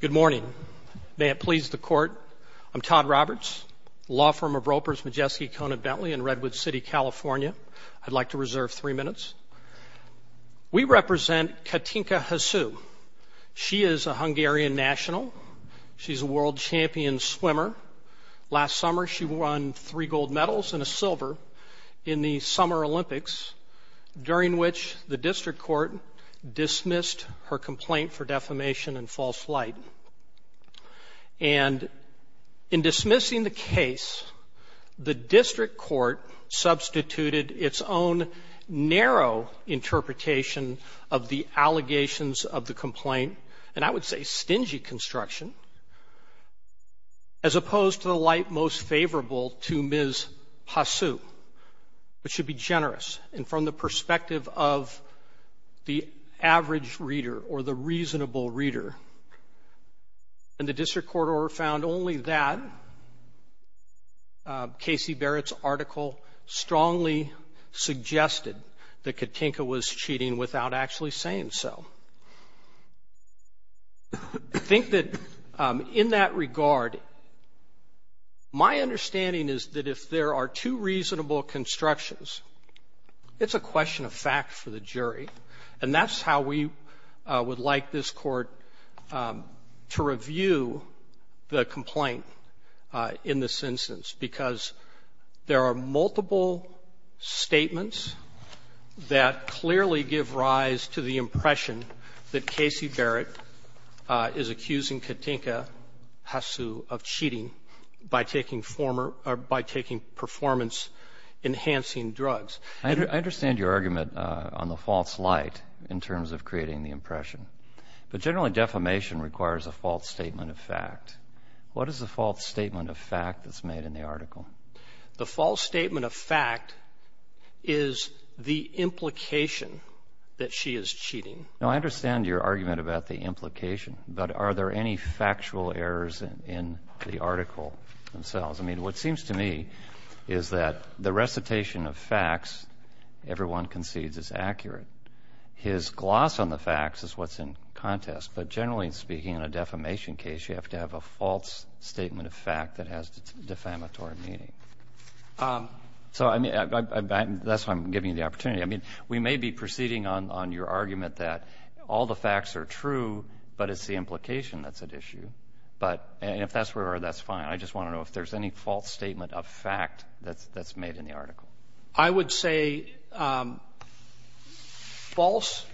Good morning. May it please the Court, I'm Todd Roberts, law firm of Ropers Majeski Conan Bentley in Redwood City, California. I'd like to reserve three minutes. We represent Katinka Hosszu. She is a Hungarian national. She's a world champion swimmer. Last summer she won three gold medals and a silver in the Summer Olympics, during which the District Court dismissed her complaint for defamation and false light. And in dismissing the case, the District Court substituted its own narrow interpretation of the allegations of the complaint, and I would say stingy construction, as opposed to the light most favorable to Ms. Hosszu, but should be generous. And from the perspective of the average reader or the reasonable reader, and the District Court order found only that, Casey Barrett's article strongly suggested that Katinka was cheating without actually saying so. I think that in that regard, my It's a question of fact for the jury, and that's how we would like this Court to review the complaint in this instance, because there are multiple statements that clearly give rise to the impression that Casey Barrett is accusing Katinka Hosszu of cheating by taking performance-enhancing drugs. I understand your argument on the false light in terms of creating the impression, but generally defamation requires a false statement of fact. What is the false statement of fact that's made in the article? The false statement of fact is the implication that she is cheating. Now I understand your argument about the implication, but are there any factual errors in the article themselves? I mean, what seems to me is that the recitation of facts everyone concedes is accurate. His gloss on the facts is what's in contest, but generally speaking in a defamation case, you have to have a false statement of fact that has defamatory meaning. So I mean, that's why I'm giving you the opportunity. I mean, we may be proceeding on your argument that all the facts are true, but it's the implication that's at issue, but if that's where that's fine. I just want to know if there's any false statement of fact that's made in the article. I would say false,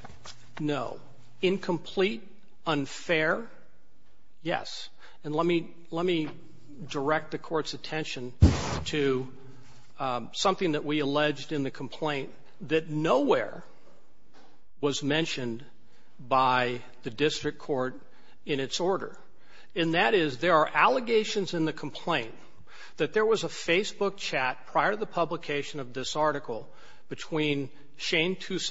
no. Incomplete, unfair, yes. And let me direct the court's attention to something that we alleged in the complaint that nowhere was mentioned by the district court in its order, and that is there are allegations in the complaint that there was a Facebook chat prior to the publication of this article between Shane World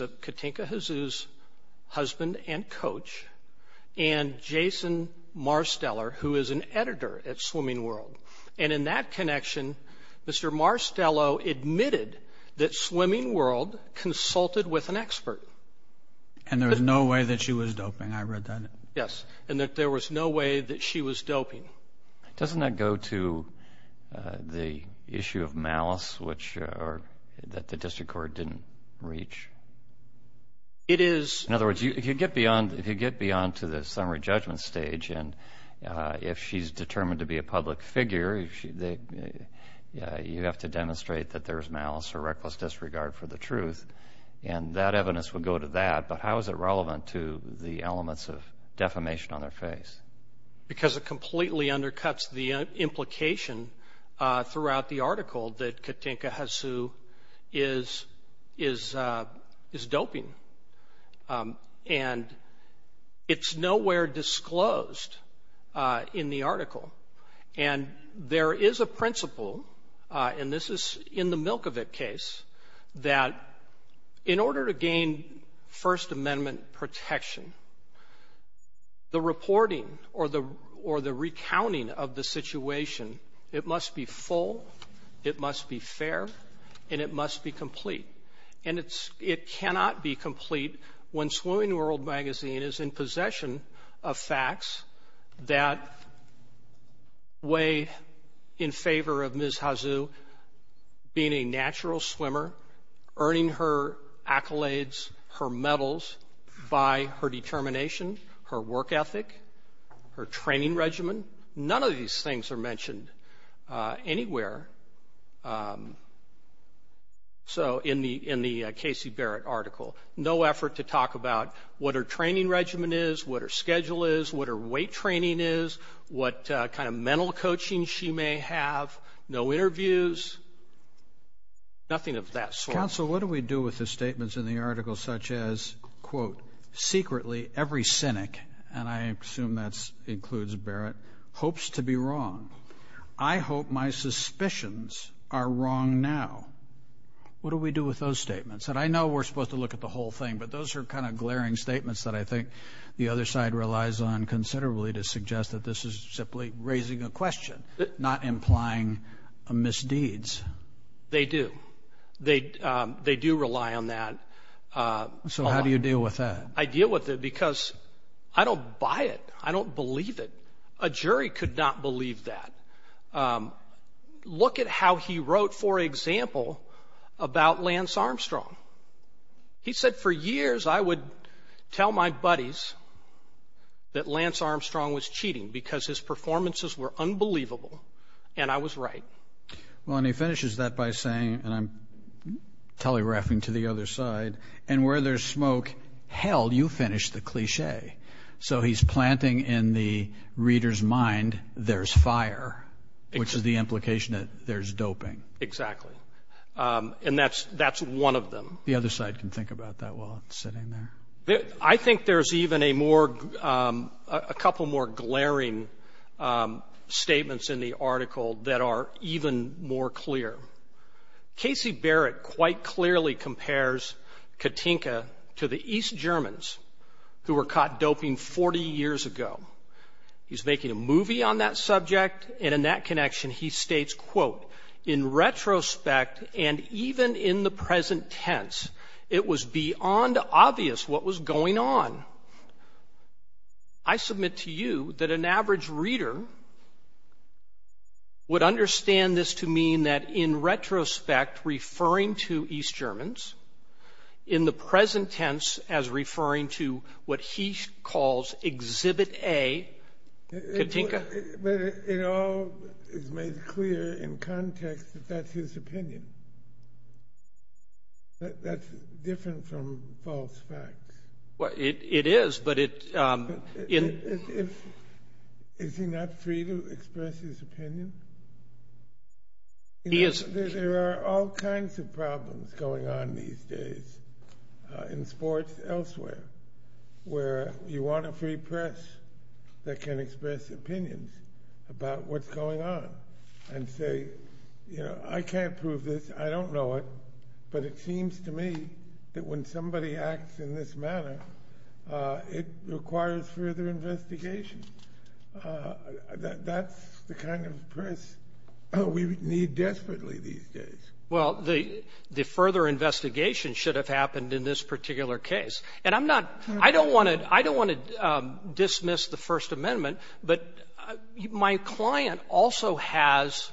and in that connection, Mr. Marstello admitted that Swimming World consulted with an expert. And there was no way that she was doping. I read that. Yes. And that there was no way that she was doping. Doesn't that go to the issue of malice which or that the district court didn't reach? It is. In other words, if you get beyond, if you get beyond to the summary judgment stage, and if she's determined to be a public figure, you have to demonstrate that there's malice or reckless disregard for the truth, and that evidence would go to that. But how is it relevant to the elements of defamation on their face? Because it completely undercuts the implication throughout the article that Katinka Hasu is doping. And it's nowhere disclosed in the article. And there is a principle, and this is in the Milkovich case, that in order to gain First Amendment protection, the reporting or the recounting of the situation, it must be full, it must be fair, and it must be complete. And it cannot be complete when Swimming World magazine is in possession of facts that weigh in favor of Ms. Hasu being a natural swimmer, earning her medals by her determination, her work ethic, her training regimen. None of these things are mentioned anywhere in the Casey Barrett article. No effort to talk about what her training regimen is, what her schedule is, what her weight training is, what kind of mental coaching she may have, no interviews, nothing of that sort. Counsel, what do we do with the statements in the article such as, quote, secretly every cynic, and I assume that includes Barrett, hopes to be wrong. I hope my suspicions are wrong now. What do we do with those statements? And I know we're supposed to look at the whole thing, but those are kind of glaring statements that I think the other side relies on considerably to suggest that this is simply raising a question, not implying misdeeds. They do. They do rely on that. So how do you deal with that? I deal with it because I don't buy it. I don't believe it. A jury could not believe that. Look at how he wrote, for example, about Lance Armstrong. He said for years I would tell my buddies that Lance Armstrong was cheating because his performances were unbelievable, and I was right. Well, and he finishes that by saying, and I'm telegraphing to the other side, and where there's smoke, hell, you finish the cliche. So he's planting in the reader's mind there's fire, which is the implication that there's doping. Exactly. And that's one of them. The other side can think about that while it's sitting there. I think there's even a couple more glaring statements in the article that are even more clear. Casey Barrett quite clearly compares Katinka to the East Germans who were caught doping 40 years ago. He's making a movie on that subject, and in that connection he states, quote, in retrospect, and even in the present tense, it was beyond obvious what was going on. I submit to you that an average reader would understand this to mean that in retrospect, referring to East Germans, in the present tense as referring to what he calls Exhibit A, Katinka. But it all is made clear in context that that's his opinion. That's different from false facts. Well, it is, but it... Is he not free to express his opinion? He is. There are all kinds of problems going on these days in sports elsewhere, where you want a free press that can express opinions about what's going on and say, you know, I can't prove this, I don't know it, but it seems to me that when somebody acts in this manner, it requires further investigation. That's the kind of press we need desperately these days. Well, the further investigation should have happened in this particular case, and I'm not... I don't want to dismiss the First Amendment, but my client also has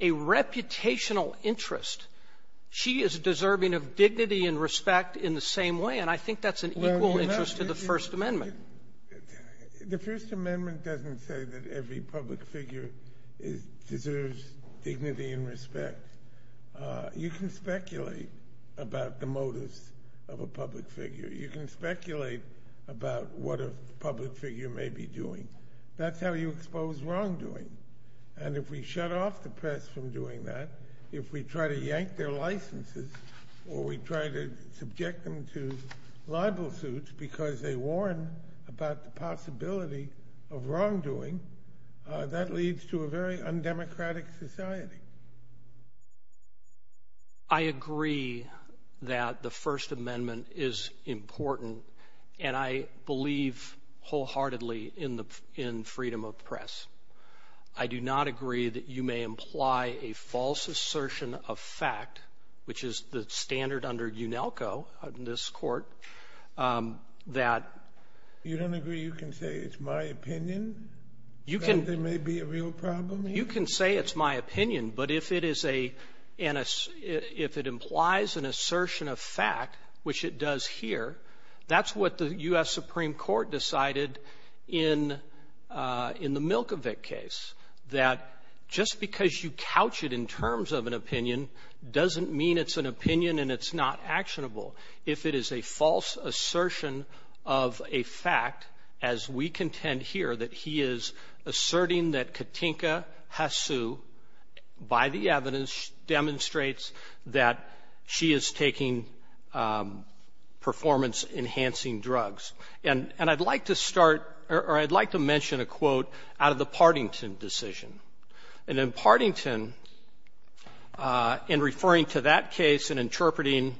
a reputational interest. She is deserving of dignity and respect in the same way, and I think that's an equal interest to the First Amendment. The First Amendment doesn't say that every public figure deserves dignity and respect. You can speculate about the motives of a public figure. You can speculate about what a public figure may be doing. That's how you expose wrongdoing, and if we shut off the press from doing that, if we try to yank their licenses, or we try to subject them to libel suits because they warn about the possibility of wrongdoing, that leads to a very undemocratic society. I agree that the First Amendment is important, and I believe wholeheartedly in freedom of the press. I do not agree that you may imply a false assertion of fact, which is the standard under UNELCO in this court, that... You don't agree you can say it's my opinion, that there may be a real problem? You can say it's my opinion, but if it implies an assertion of fact, which it does here, that's what the U.S. Supreme Court decided in the Milkovich case, that just because you couch it in terms of an opinion doesn't mean it's an opinion and it's not actionable. If it is a false assertion of a fact, as we contend here, that he is asserting that Katinka Hasu, by the evidence, demonstrates that she is taking performance-enhancing drugs. And I'd like to start, or I'd like to mention a quote out of the Partington decision. And in referring to that case and interpreting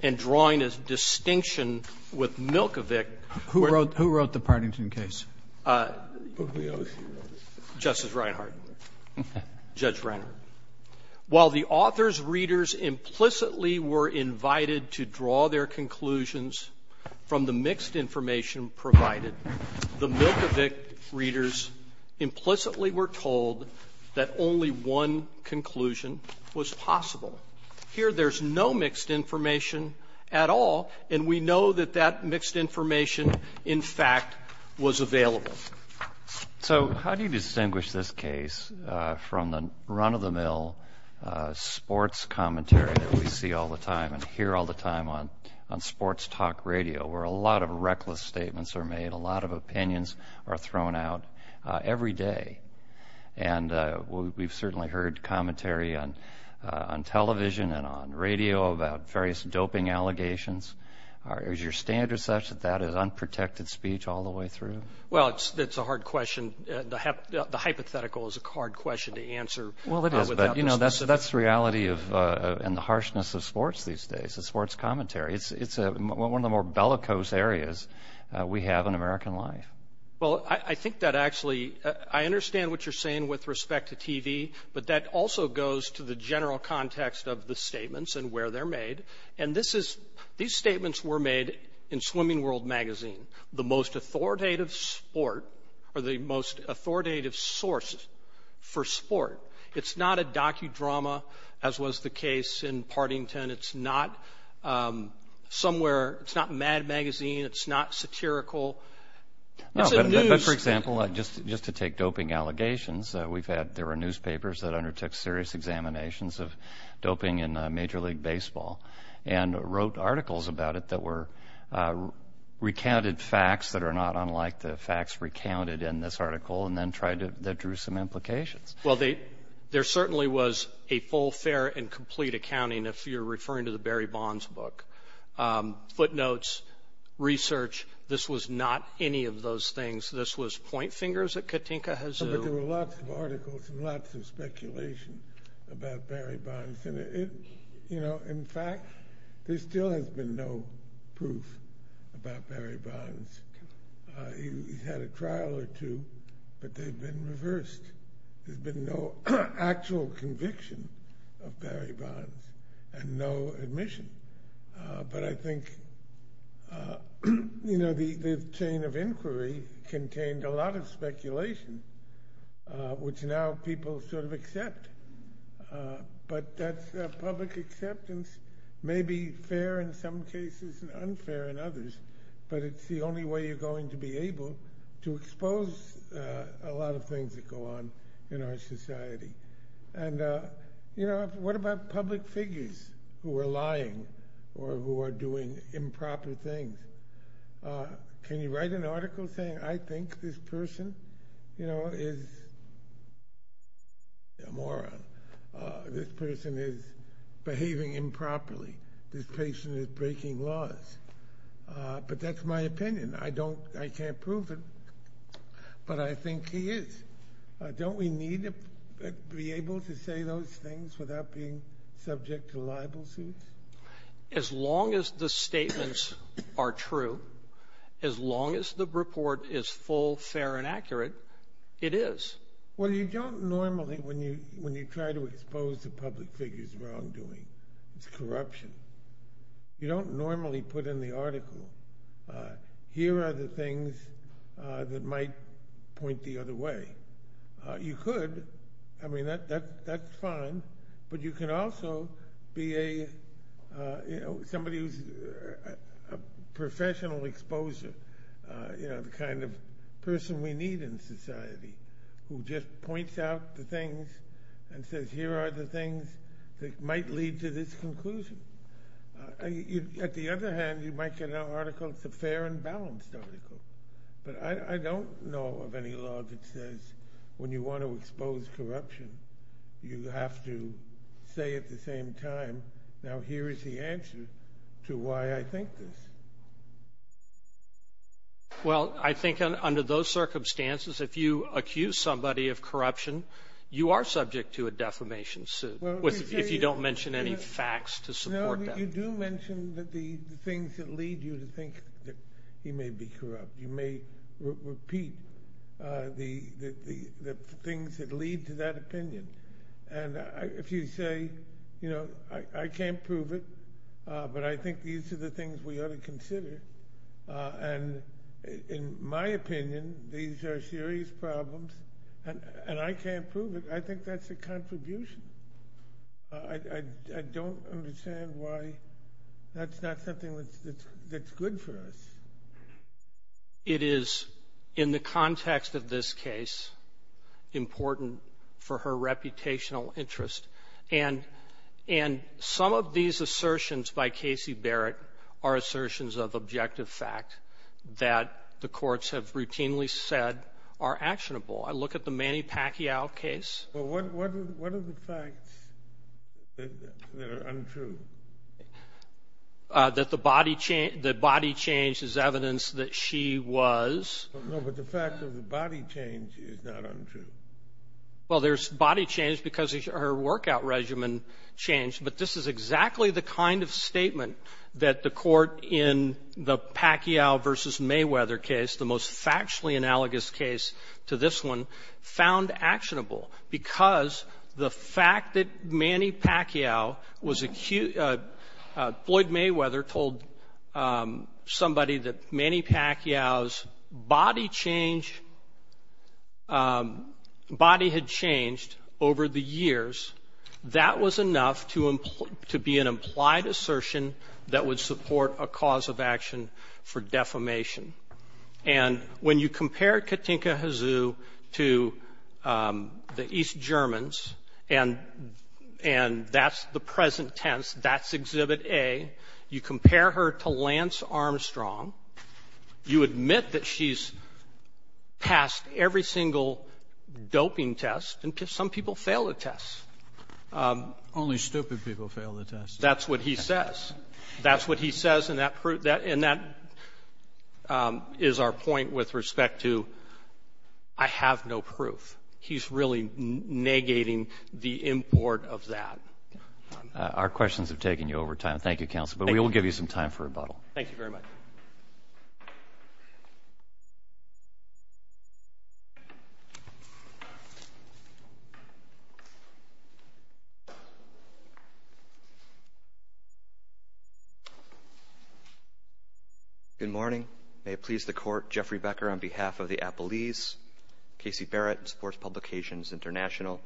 and drawing a distinction with Milkovich... Who wrote the Partington case? Justice Reinhardt. Judge Reinhardt. While the author's readers implicitly were invited to draw their conclusions from the mixed information provided, the Milkovich readers implicitly were told that only one conclusion was possible. Here, there's no mixed information at all, and we know that that mixed information, in fact, was available. So how do you distinguish this case from the run-of-the-mill sports commentary that we see all the time and hear all the time on sports talk radio, where a lot of reckless We've certainly heard commentary on television and on radio about various doping allegations. Is your standard such that that is unprotected speech all the way through? Well, it's a hard question. The hypothetical is a hard question to answer. Well, it is, but, you know, that's the reality and the harshness of sports these days, the sports commentary. It's one of the more bellicose areas we have in American life. Well, I think that actually, I understand what you're saying with respect to TV, but that also goes to the general context of the statements and where they're made. And this is, these statements were made in Swimming World magazine, the most authoritative sport or the most authoritative source for sport. It's not a docudrama, as was the case in Partington. It's not somewhere, it's not Mad Magazine. It's not satirical. No, but for example, just to take doping allegations, we've had, there were newspapers that undertook serious examinations of doping in Major League Baseball and wrote articles about it that were, recounted facts that are not unlike the facts recounted in this article and then tried to, that drew some implications. Well, they, there certainly was a full, fair and complete accounting if you're referring to the Barry Bonds book. Footnotes, research, this was not any of those things. This was point fingers at Katinka Hazoo. But there were lots of articles and lots of speculation about Barry Bonds. And it, you know, in fact, there still has been no proof about Barry Bonds. He's had a trial or two, but they've been reversed. There's been no actual conviction of Barry Bonds and no admission. But I think, you know, the chain of inquiry contained a lot of speculation, which now people sort of accept. But that public acceptance may be fair in some cases and unfair in others, but it's the only way you're going to be able to expose a lot of things that go on in our society. And, you know, what about public figures who are lying or who are doing improper things? Can you write an article saying, I think this person, you know, is a moron? This person is behaving improperly. This patient is breaking laws. But that's my opinion. I don't, I can't prove it, but I think he is. Don't we need to be able to say those things without being subject to libel suits? As long as the statements are true, as long as the report is full, fair, and accurate, it is. Well, you don't normally, when you try to expose a public figure's wrongdoing, it's corruption. You don't normally put in the article, here are the things that might point the other way. You could. I mean, that's fine. But you can also be a, you know, somebody who's a professional exposer, you know, the kind of person we need in society, who just points out the things and says, here are the things that might lead to this conclusion. At the other hand, you might get an article, it's a fair and balanced article. But I don't know of any law that says, when you want to expose corruption, you have to say at the same time, now here is the answer to why I think this. Well, I think under those circumstances, if you accuse somebody of corruption, you are subject to a defamation suit, if you don't mention any facts to support that. No, but you do mention the things that lead you to think that he may be corrupt. You may repeat the things that lead to that opinion. And if you say, you know, I can't prove it, but I think these are the things we ought to consider, and in my opinion, these are serious problems, and I can't prove it. I think that's a contribution. I don't understand why that's not something that's good for us. It is, in the context of this case, important for her reputational interest. And some of these assertions by Casey Barrett are assertions of objective fact that the courts have routinely said are actionable. I look at the Manny Pacquiao case. Well, what are the facts that are untrue? That the body change is evidence that she was. No, but the fact that the body change is not untrue. Well, there's body change because her workout regimen changed, but this is exactly the kind of statement that the court in the Pacquiao v. Mayweather case, the most factually analogous case to this one, found actionable, because the fact that Manny Pacquiao was acute. Floyd Mayweather told somebody that Manny Pacquiao's body had changed over the years. That was enough to be an implied assertion that would support a cause of action for defamation. And when you compare Katinka Hazoo to the East Germans, and that's the present tense, that's Exhibit A, you compare her to Lance Armstrong, you admit that she's passed every single doping test, and some people fail the tests. Only stupid people fail the tests. That's what he says. And that is our point with respect to I have no proof. He's really negating the import of that. Our questions have taken you over time. Thank you, counsel, but we will give you some time for rebuttal. Thank you very much. Good morning. May it please the Court, Jeffrey Becker on behalf of the Appleese, Casey Barrett, and Sports Publications International.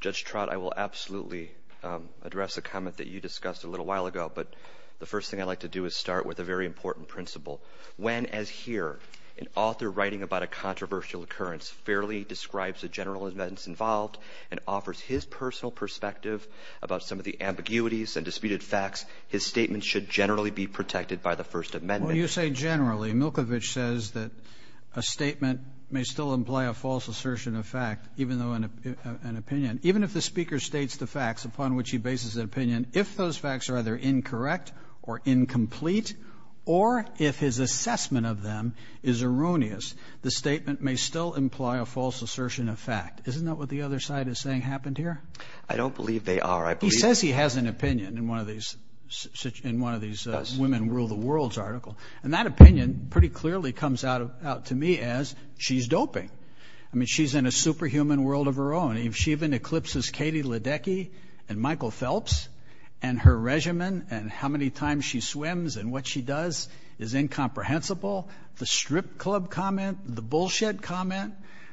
Judge Trott, I will absolutely address a comment that you discussed a little while ago, but the first thing I'd like to do is start with a very important principle. When, as here, an author writing about a controversial occurrence fairly describes the general events involved and offers his personal perspective about some of the ambiguities and disputed facts, his statement should generally be protected by the First Amendment. When you say generally, Milkovich says that a statement may still imply a false assertion of fact, even though an opinion, even if the speaker states the facts upon which he bases an opinion, if those facts are either incorrect or incomplete, or if his assessment of them is erroneous, the statement may still imply a false assertion of fact. Isn't that what the other side is saying happened here? I don't believe they are. He says he has an opinion in one of these women rule the world's articles, and that opinion pretty clearly comes out to me as she's doping. I mean, she's in a superhuman world of her own. If she even eclipses Katie Ledecky and Michael Phelps and her regimen and how many times she swims and what she does is incomprehensible, the strip club comment, the bullshit comment,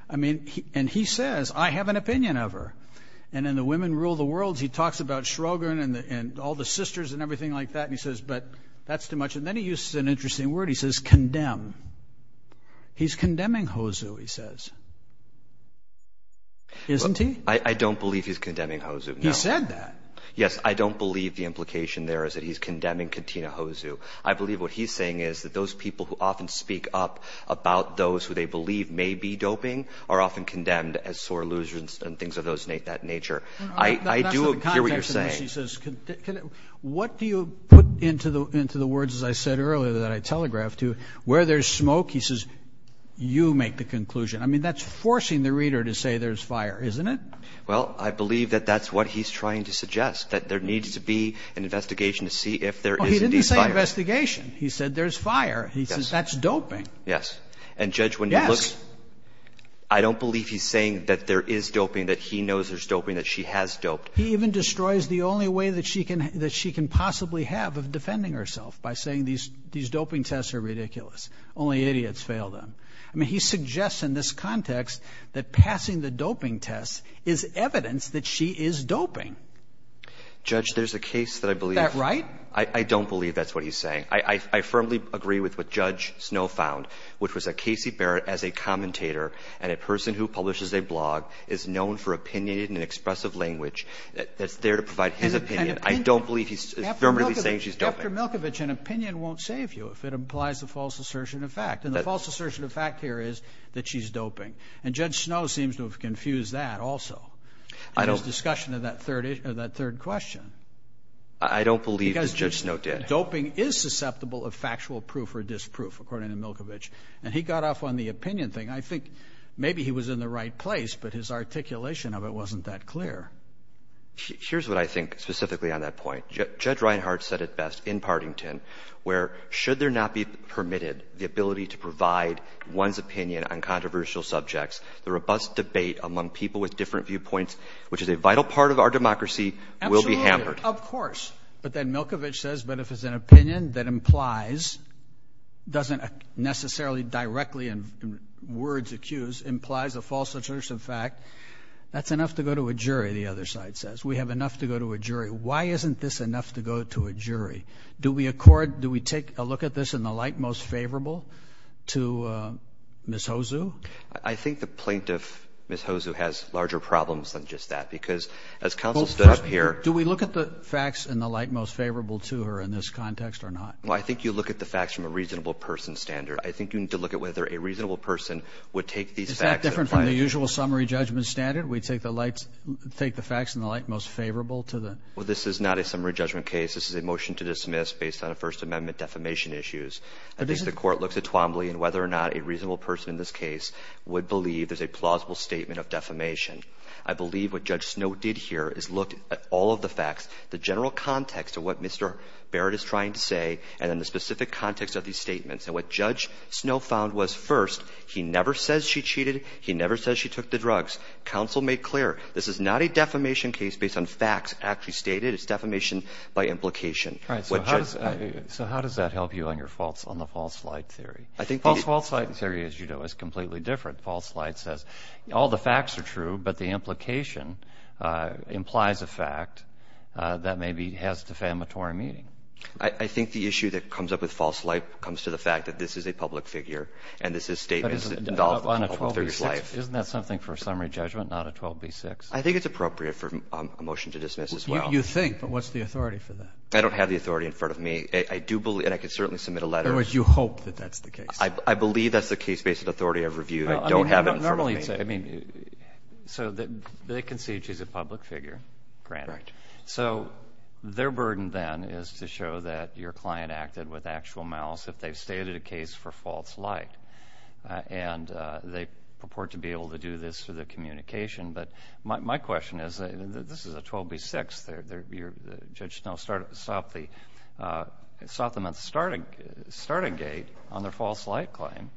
I mean, and he says, I have an opinion of her. And in the women rule the world, he talks about Shrogan and all the sisters and everything like that. And he says, but that's too much. And then he uses an interesting word. He says condemn. He's condemning HOSU, he says. Isn't he? I don't believe he's condemning HOSU. He said that. Yes, I don't believe the implication there is that he's condemning Katina HOSU. I believe what he's saying is that those people who often speak up about those who they believe may be doping are often condemned as sore losers and things of that nature. I do hear what you're saying. What do you put into the words, as I said earlier, that I telegraphed to where there's smoke? He says you make the conclusion. I mean, that's forcing the reader to say there's fire, isn't it? Well, I believe that that's what he's trying to suggest, that there needs to be an investigation to see if there is indeed fire. He didn't say investigation. He said there's fire. He says that's doping. Yes. And, Judge, when you look, I don't believe he's saying that there is doping, that he knows there's doping, that she has doped. He even destroys the only way that she can possibly have of defending herself by saying these doping tests are ridiculous. Only idiots fail them. I mean, he suggests in this context that passing the doping test is evidence that she is doping. Judge, there's a case that I believe. Is that right? I don't believe that's what he's saying. I firmly agree with what Judge Snow found, which was that Casey Barrett, as a commentator and a person who publishes a blog, is known for opinionated and expressive language that's there to provide his opinion. I don't believe he's affirmatively saying she's doping. After Milkovich, an opinion won't save you if it implies a false assertion of fact. And the false assertion of fact here is that she's doping. And Judge Snow seems to have confused that also in his discussion of that third question. I don't believe that Judge Snow did. He said doping is susceptible of factual proof or disproof, according to Milkovich. And he got off on the opinion thing. I think maybe he was in the right place, but his articulation of it wasn't that clear. Here's what I think specifically on that point. Judge Reinhart said it best in Partington, where should there not be permitted the ability to provide one's opinion on controversial subjects, the robust debate among people with different viewpoints, which is a vital part of our democracy, will be hammered. Absolutely. Of course. But then Milkovich says, but if it's an opinion that implies, doesn't necessarily directly in words accuse, implies a false assertion of fact, that's enough to go to a jury, the other side says. We have enough to go to a jury. Why isn't this enough to go to a jury? Do we accord, do we take a look at this in the light most favorable to Ms. Hozu? I think the plaintiff, Ms. Hozu, has larger problems than just that because as counsel stood up here. Do we look at the facts in the light most favorable to her in this context or not? Well, I think you look at the facts from a reasonable person standard. I think you need to look at whether a reasonable person would take these facts. Is that different from the usual summary judgment standard? We take the facts in the light most favorable to the. Well, this is not a summary judgment case. This is a motion to dismiss based on a First Amendment defamation issues. I think the court looks at Twombly and whether or not a reasonable person in this case would believe there's a plausible statement of defamation. I believe what Judge Snow did here is look at all of the facts, the general context of what Mr. Barrett is trying to say, and then the specific context of these statements. And what Judge Snow found was, first, he never says she cheated. He never says she took the drugs. Counsel made clear this is not a defamation case based on facts actually stated. It's defamation by implication. So how does that help you on the false light theory? False light theory, as you know, is completely different. False light says all the facts are true, but the implication implies a fact that maybe has defamatory meaning. I think the issue that comes up with false light comes to the fact that this is a public figure and this is a statement. Isn't that something for a summary judgment, not a 12b-6? I think it's appropriate for a motion to dismiss as well. You think, but what's the authority for that? I don't have the authority in front of me. I do believe, and I can certainly submit a letter. In other words, you hope that that's the case. I believe that's the case based authority I've reviewed. I don't have it in front of me. Normally you'd say, I mean, so they concede she's a public figure, granted. So their burden then is to show that your client acted with actual malice if they've stated a case for false light. And they purport to be able to do this through the communication. But my question is, this is a 12b-6. Judge Snell stopped them at the starting gate on their false light claim.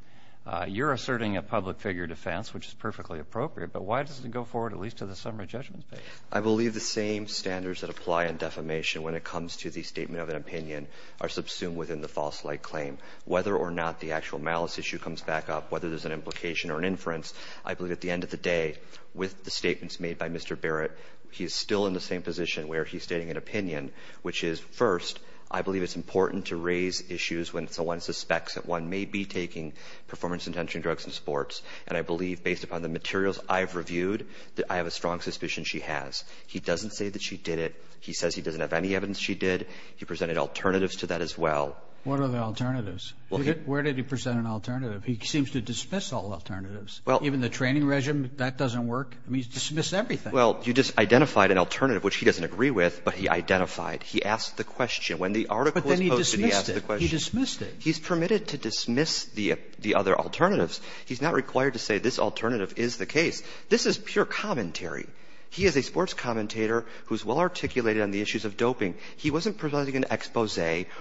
You're asserting a public figure defense, which is perfectly appropriate. But why doesn't it go forward at least to the summary judgment? I believe the same standards that apply in defamation when it comes to the statement of an opinion are subsumed within the false light claim. Whether or not the actual malice issue comes back up, whether there's an implication or an inference, I believe at the end of the day, with the statements made by Mr. Barrett, he's still in the same position where he's stating an opinion, which is, first, I believe it's important to raise issues when someone suspects that one may be taking performance-intention drugs in sports. And I believe, based upon the materials I've reviewed, that I have a strong suspicion she has. He doesn't say that she did it. He says he doesn't have any evidence she did. He presented alternatives to that as well. What are the alternatives? Where did he present an alternative? He seems to dismiss all alternatives. Even the training regimen, that doesn't work. I mean, he's dismissed everything. Well, you just identified an alternative, which he doesn't agree with, but he identified. He asked the question. When the article was posted, he asked the question. But then he dismissed it. He dismissed it. He's permitted to dismiss the other alternatives. He's not required to say this alternative is the case. This is pure commentary. He is a sports commentator who's well-articulated on the issues of doping. He wasn't presenting an expose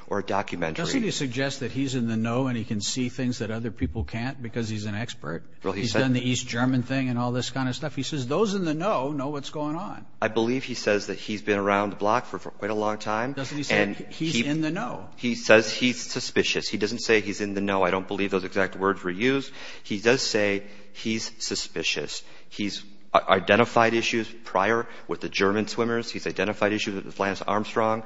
or a documentary. Doesn't he suggest that he's in the know and he can see things that other people can't because he's an expert? Well, he said— He's done the East German thing and all this kind of stuff. He says those in the know know what's going on. I believe he says that he's been around the block for quite a long time. Doesn't he say he's in the know? He says he's suspicious. He doesn't say he's in the know. I don't believe those exact words were used. He does say he's suspicious. He's identified issues prior with the German swimmers. He's identified issues with Lance Armstrong.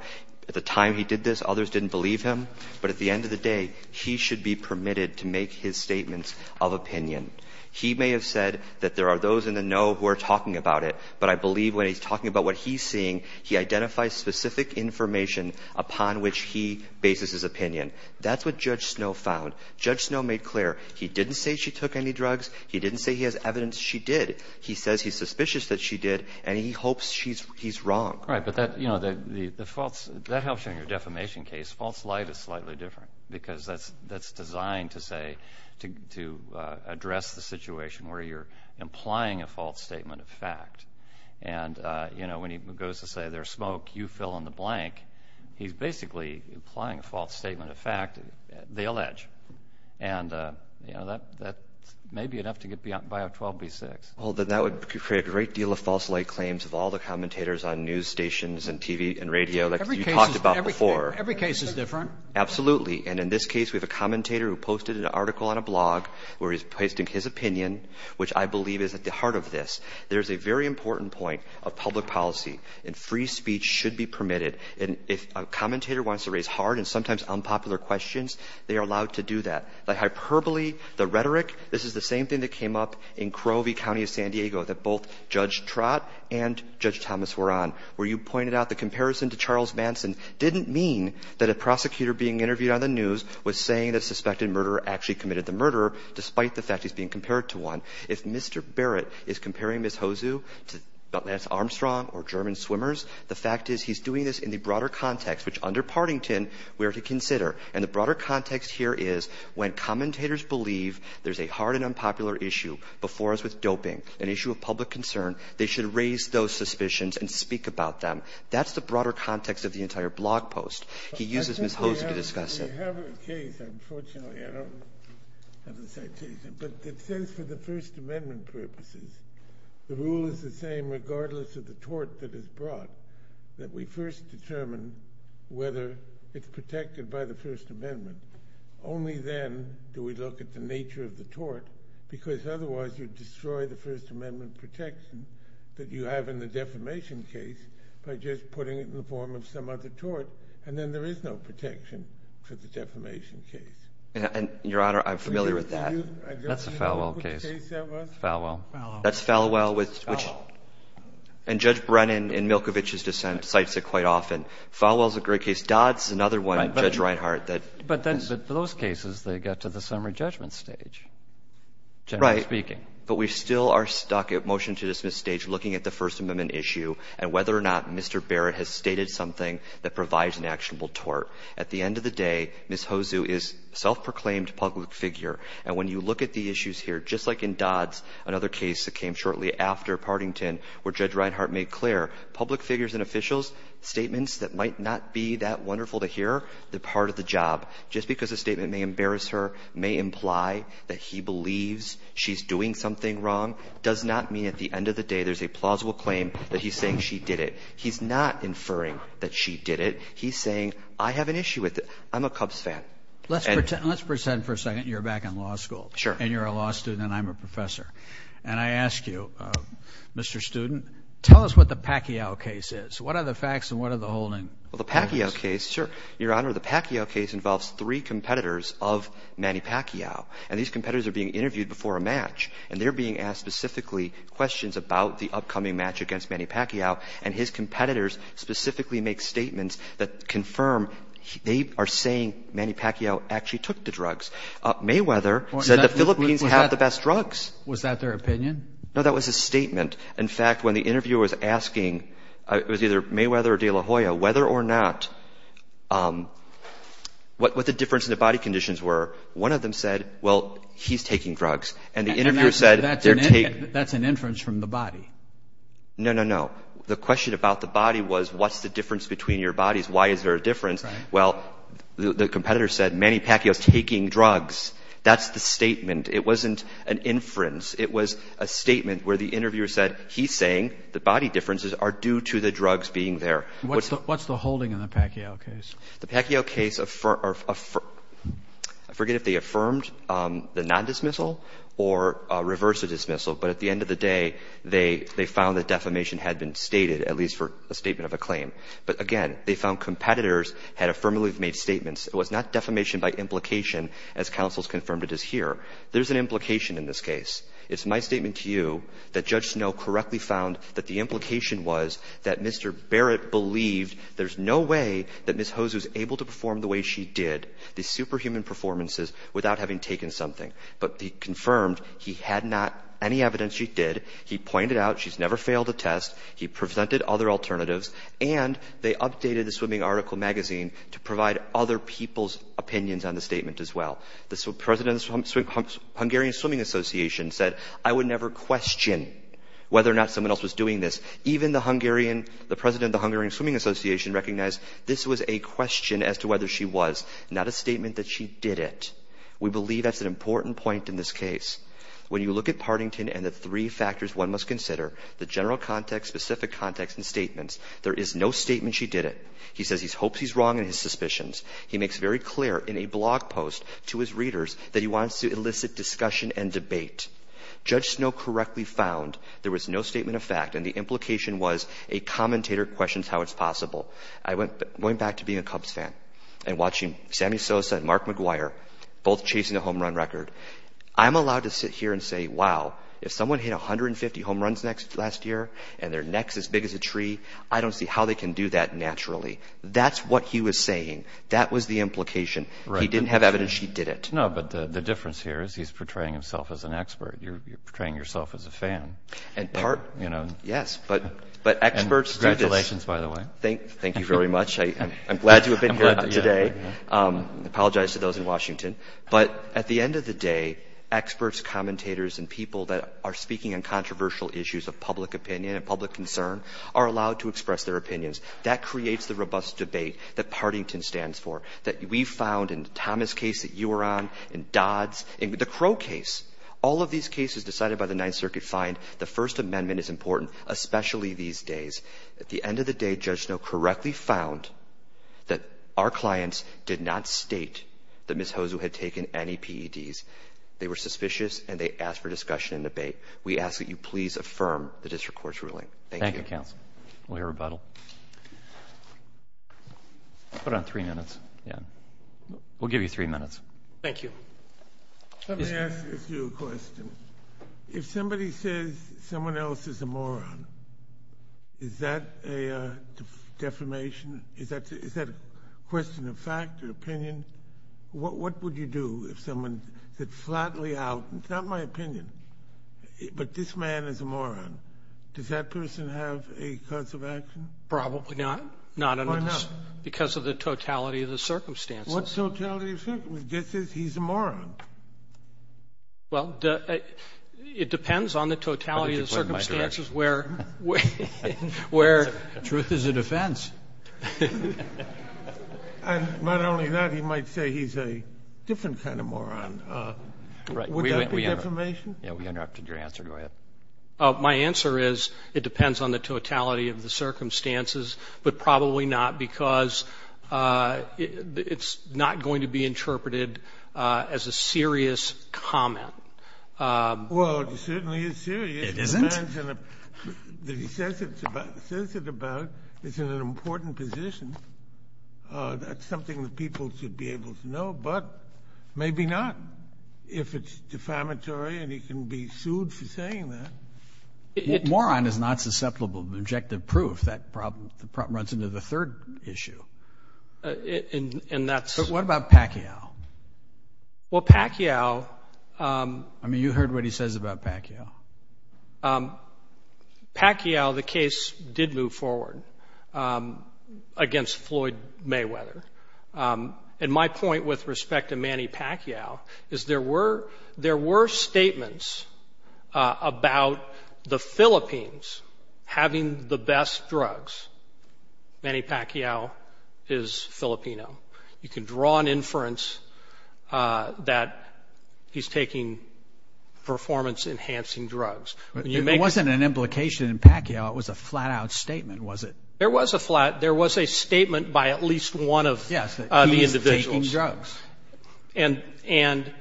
At the time he did this, others didn't believe him. But at the end of the day, he should be permitted to make his statements of opinion. He may have said that there are those in the know who are talking about it, but I believe when he's talking about what he's seeing, he identifies specific information upon which he bases his opinion. That's what Judge Snow found. Judge Snow made clear he didn't say she took any drugs. He didn't say he has evidence she did. He says he's suspicious that she did, and he hopes he's wrong. Right, but that helps in your defamation case. False light is slightly different because that's designed to say to address the situation where you're implying a false statement of fact. And, you know, when he goes to say there's smoke, you fill in the blank, he's basically implying a false statement of fact. They allege. And, you know, that may be enough to get by a 12B6. Well, then that would create a great deal of false light claims of all the commentators on news stations and TV and radio that you talked about before. Every case is different. Absolutely, and in this case we have a commentator who posted an article on a blog where he's posting his opinion, which I believe is at the heart of this. There's a very important point of public policy, and free speech should be permitted. And if a commentator wants to raise hard and sometimes unpopular questions, they are allowed to do that. The hyperbole, the rhetoric, this is the same thing that came up in Crowe v. County of San Diego that both Judge Trott and Judge Thomas were on, where you pointed out the comparison to Charles Manson didn't mean that a prosecutor being interviewed on the news was saying that a suspected murderer actually committed the murder, despite the fact he's being compared to one. If Mr. Barrett is comparing Ms. Hozu to Lance Armstrong or German swimmers, the fact is he's doing this in the broader context, which under Partington we are to consider. And the broader context here is when commentators believe there's a hard and unpopular issue before us with doping, an issue of public concern, they should raise those suspicions and speak about them. That's the broader context of the entire blog post. He uses Ms. Hozu to discuss it. We have a case, unfortunately, I don't have the citation, but it says for the First Amendment purposes, the rule is the same regardless of the tort that is brought, that we first determine whether it's protected by the First Amendment. Only then do we look at the nature of the tort, because otherwise you'd destroy the First Amendment protection that you have in the defamation case by just putting it in the form of some other tort, and then there is no protection for the defamation case. And, Your Honor, I'm familiar with that. That's the Falwell case. Which case that was? Falwell. That's Falwell. And Judge Brennan in Milkovich's dissent cites it quite often. Falwell's a great case. Dodd's another one, Judge Reinhart. But those cases, they get to the summary judgment stage, generally speaking. But we still are stuck at motion-to-dismiss stage looking at the First Amendment issue and whether or not Mr. Barrett has stated something that provides an actionable tort. At the end of the day, Ms. Hosu is a self-proclaimed public figure, and when you look at the issues here, just like in Dodd's, another case that came shortly after Partington where Judge Reinhart made clear, public figures and officials, statements that might not be that wonderful to hear, they're part of the job. Just because a statement may embarrass her, may imply that he believes she's doing something wrong, does not mean at the end of the day there's a plausible claim that he's saying she did it. He's not inferring that she did it. He's saying, I have an issue with it. I'm a Cubs fan. Let's pretend for a second you're back in law school. Sure. And you're a law student and I'm a professor. And I ask you, Mr. Student, tell us what the Pacquiao case is. What are the facts and what are the holding? Well, the Pacquiao case, sure, Your Honor, the Pacquiao case involves three competitors of Manny Pacquiao. And these competitors are being interviewed before a match. And they're being asked specifically questions about the upcoming match against Manny Pacquiao. And his competitors specifically make statements that confirm they are saying Manny Pacquiao actually took the drugs. Mayweather said the Philippines have the best drugs. Was that their opinion? No, that was a statement. In fact, when the interviewer was asking, it was either Mayweather or De La Hoya, whether or not, what the difference in the body conditions were, one of them said, well, he's taking drugs. And the interviewer said they're taking. That's an inference from the body. No, no, no. The question about the body was what's the difference between your bodies? Why is there a difference? Well, the competitor said Manny Pacquiao's taking drugs. That's the statement. It wasn't an inference. It was a statement where the interviewer said he's saying the body differences are due to the drugs being there. What's the holding in the Pacquiao case? The Pacquiao case, I forget if they affirmed the non-dismissal or reversed the dismissal. But at the end of the day, they found that defamation had been stated, at least for a statement of a claim. But, again, they found competitors had affirmatively made statements. It was not defamation by implication, as counsels confirmed it is here. There's an implication in this case. It's my statement to you that Judge Snow correctly found that the implication was that Mr. Barrett believed there's no way that Ms. Hose was able to perform the way she did, the superhuman performances, without having taken something. But he confirmed he had not any evidence she did. He pointed out she's never failed a test. He presented other alternatives. And they updated the swimming article magazine to provide other people's opinions on the statement as well. The president of the Hungarian Swimming Association said, I would never question whether or not someone else was doing this. Even the president of the Hungarian Swimming Association recognized this was a question as to whether she was, not a statement that she did it. We believe that's an important point in this case. When you look at Partington and the three factors one must consider, the general context, specific context, and statements, there is no statement she did it. He says he hopes he's wrong in his suspicions. He makes very clear in a blog post to his readers that he wants to elicit discussion and debate. Judge Snow correctly found there was no statement of fact, and the implication was a commentator questions how it's possible. I went back to being a Cubs fan and watching Sammy Sosa and Mark McGuire, both chasing the home run record. I'm allowed to sit here and say, wow, if someone hit 150 home runs last year and their neck's as big as a tree, I don't see how they can do that naturally. That's what he was saying. That was the implication. He didn't have evidence she did it. No, but the difference here is he's portraying himself as an expert. You're portraying yourself as a fan. Yes, but experts do this. Congratulations, by the way. Thank you very much. I'm glad to have been here today. I apologize to those in Washington. But at the end of the day, experts, commentators, and people that are speaking on controversial issues of public opinion and public concern are allowed to express their opinions. That creates the robust debate that Partington stands for, that we found in the Thomas case that you were on, in Dodd's, in the Crow case. All of these cases decided by the Ninth Circuit find the First Amendment is important, especially these days. At the end of the day, Judge Snow correctly found that our clients did not state that Ms. Hozu had taken any PEDs. They were suspicious, and they asked for discussion and debate. We ask that you please affirm the district court's ruling. Thank you. Thank you, counsel. We'll hear rebuttal. I'll put on three minutes. We'll give you three minutes. Thank you. Let me ask you a question. If somebody says someone else is a moron, is that a defamation? Is that a question of fact or opinion? What would you do if someone said flatly out, it's not my opinion, but this man is a moron. Does that person have a cause of action? Probably not. Why not? Because of the totality of the circumstances. What totality of circumstances? He says he's a moron. Well, it depends on the totality of the circumstances where... Truth is a defense. Not only that, he might say he's a different kind of moron. Would that be defamation? We interrupted your answer. Go ahead. My answer is it depends on the totality of the circumstances, but probably not because it's not going to be interpreted as a serious comment. Well, it certainly is serious. It isn't? The man says it about it's in an important position. That's something that people should be able to know, but maybe not. If it's defamatory and he can be sued for saying that. Moron is not susceptible to objective proof. That problem runs into the third issue. What about Pacquiao? Well, Pacquiao... I mean, you heard what he says about Pacquiao. Pacquiao, the case did move forward against Floyd Mayweather. And my point with respect to Manny Pacquiao is there were statements about the Philippines having the best drugs. Manny Pacquiao is Filipino. You can draw an inference that he's taking performance-enhancing drugs. It wasn't an implication in Pacquiao. It was a flat-out statement, was it? There was a flat. There was a statement by at least one of the individuals. Yes, that he is taking drugs. And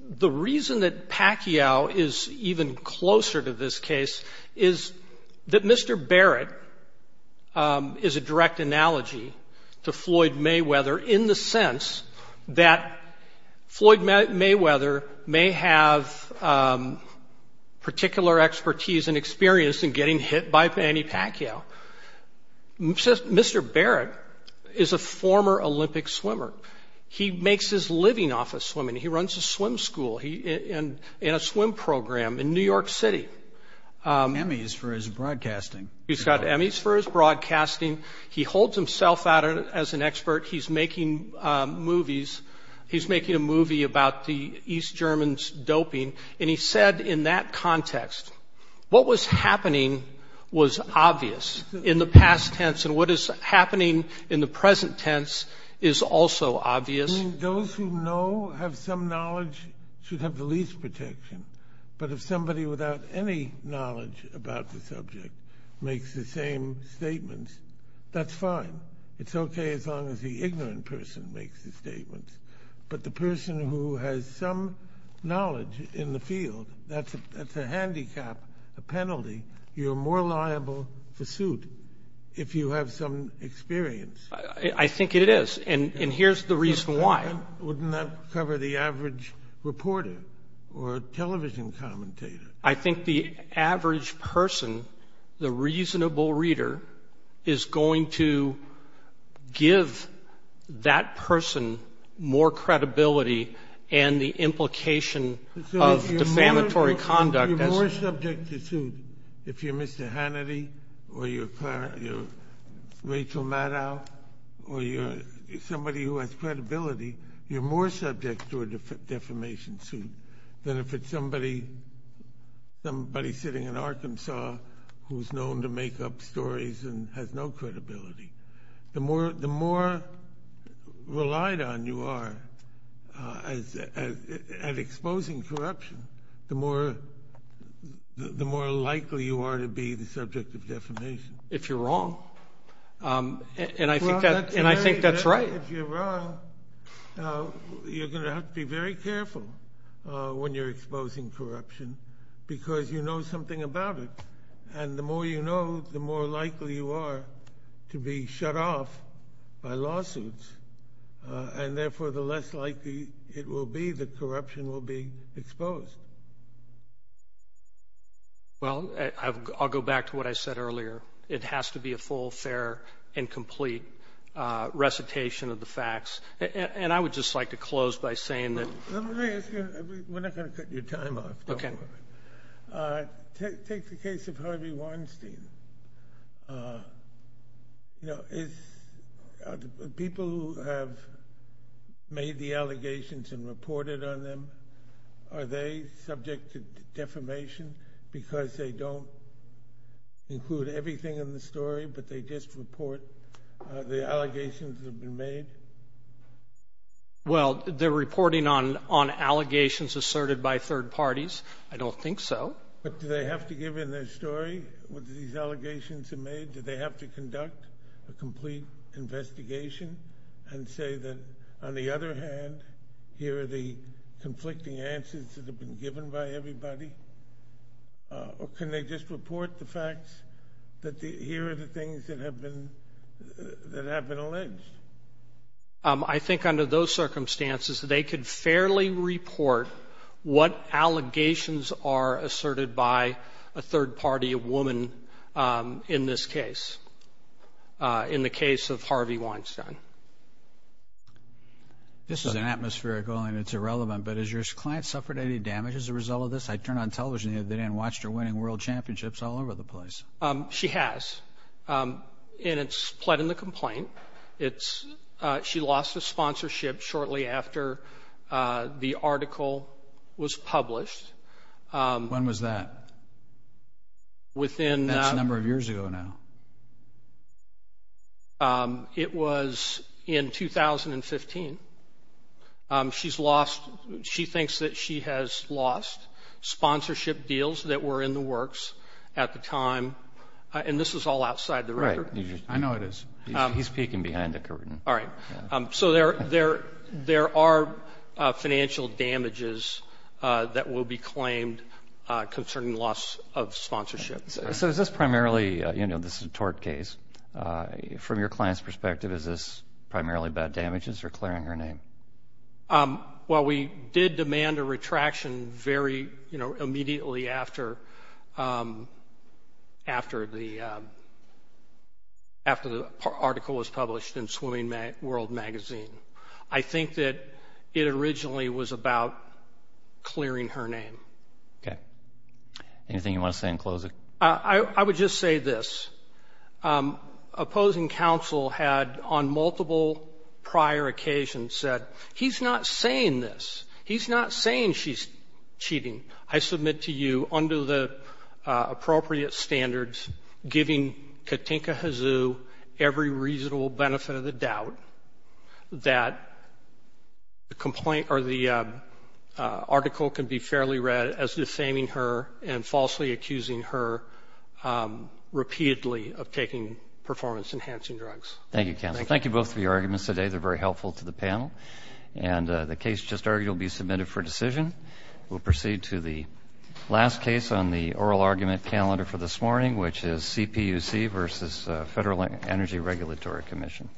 the reason that Pacquiao is even closer to this case is that Mr. Barrett is a direct analogy to Floyd Mayweather in the sense that Floyd Mayweather may have particular expertise and experience in getting hit by Manny Pacquiao. Mr. Barrett is a former Olympic swimmer. He makes his living off of swimming. He runs a swim school in a swim program in New York City. Emmys for his broadcasting. He's got Emmys for his broadcasting. He holds himself out as an expert. He's making movies. He's making a movie about the East Germans doping. And he said in that context, what was happening was obvious in the past tense, and what is happening in the present tense is also obvious. Those who know, have some knowledge, should have the least protection. But if somebody without any knowledge about the subject makes the same statements, that's fine. It's okay as long as the ignorant person makes the statements. But the person who has some knowledge in the field, that's a handicap, a penalty. You're more liable to suit if you have some experience. I think it is, and here's the reason why. Wouldn't that cover the average reporter or television commentator? I think the average person, the reasonable reader, is going to give that person more credibility and the implication of defamatory conduct. You're more subject to suit if you're Mr. Hannity or you're Rachel Maddow or you're somebody who has credibility, you're more subject to a defamation suit than if it's somebody sitting in Arkansas who's known to make up stories and has no credibility. The more relied on you are at exposing corruption, the more likely you are to be the subject of defamation. If you're wrong, and I think that's right. If you're wrong, you're going to have to be very careful when you're exposing corruption because you know something about it, and the more you know, the more likely you are to be shut off by lawsuits, and therefore the less likely it will be that corruption will be exposed. Well, I'll go back to what I said earlier. It has to be a full, fair, and complete recitation of the facts, and I would just like to close by saying that— Let me ask you—we're not going to cut your time off. Okay. Take the case of Harvey Weinstein. People who have made the allegations and reported on them, are they subject to defamation because they don't include everything in the story, but they just report the allegations that have been made? Well, they're reporting on allegations asserted by third parties. I don't think so. But do they have to give in their story, what these allegations have made? Do they have to conduct a complete investigation and say that, on the other hand, here are the conflicting answers that have been given by everybody, or can they just report the facts that here are the things that have been alleged? I think under those circumstances, they could fairly report what allegations are asserted by a third party, a woman, in this case, in the case of Harvey Weinstein. This is an atmospheric allegation. It's irrelevant. But has your client suffered any damage as a result of this? I turned on television the other day and watched her winning world championships all over the place. She has, and it's pled in the complaint. She lost her sponsorship shortly after the article was published. When was that? That's a number of years ago now. It was in 2015. She thinks that she has lost sponsorship deals that were in the works at the time, and this is all outside the record. Right. I know it is. He's peeking behind the curtain. All right. So there are financial damages that will be claimed concerning loss of sponsorship. So is this primarily a tort case? From your client's perspective, is this primarily about damages or clearing her name? Well, we did demand a retraction very immediately after the article was published in Swimming World magazine. I think that it originally was about clearing her name. Okay. Anything you want to say in closing? I would just say this. Opposing counsel had on multiple prior occasions said, he's not saying this. He's not saying she's cheating. I submit to you under the appropriate standards giving Katinka Hazoo every reasonable benefit of the doubt that the article can be fairly read as defaming her and falsely accusing her repeatedly of taking performance-enhancing drugs. Thank you, counsel. Thank you both for your arguments today. They're very helpful to the panel. And the case just argued will be submitted for decision. We'll proceed to the last case on the oral argument calendar for this morning, which is CPUC versus Federal Energy Regulatory Commission.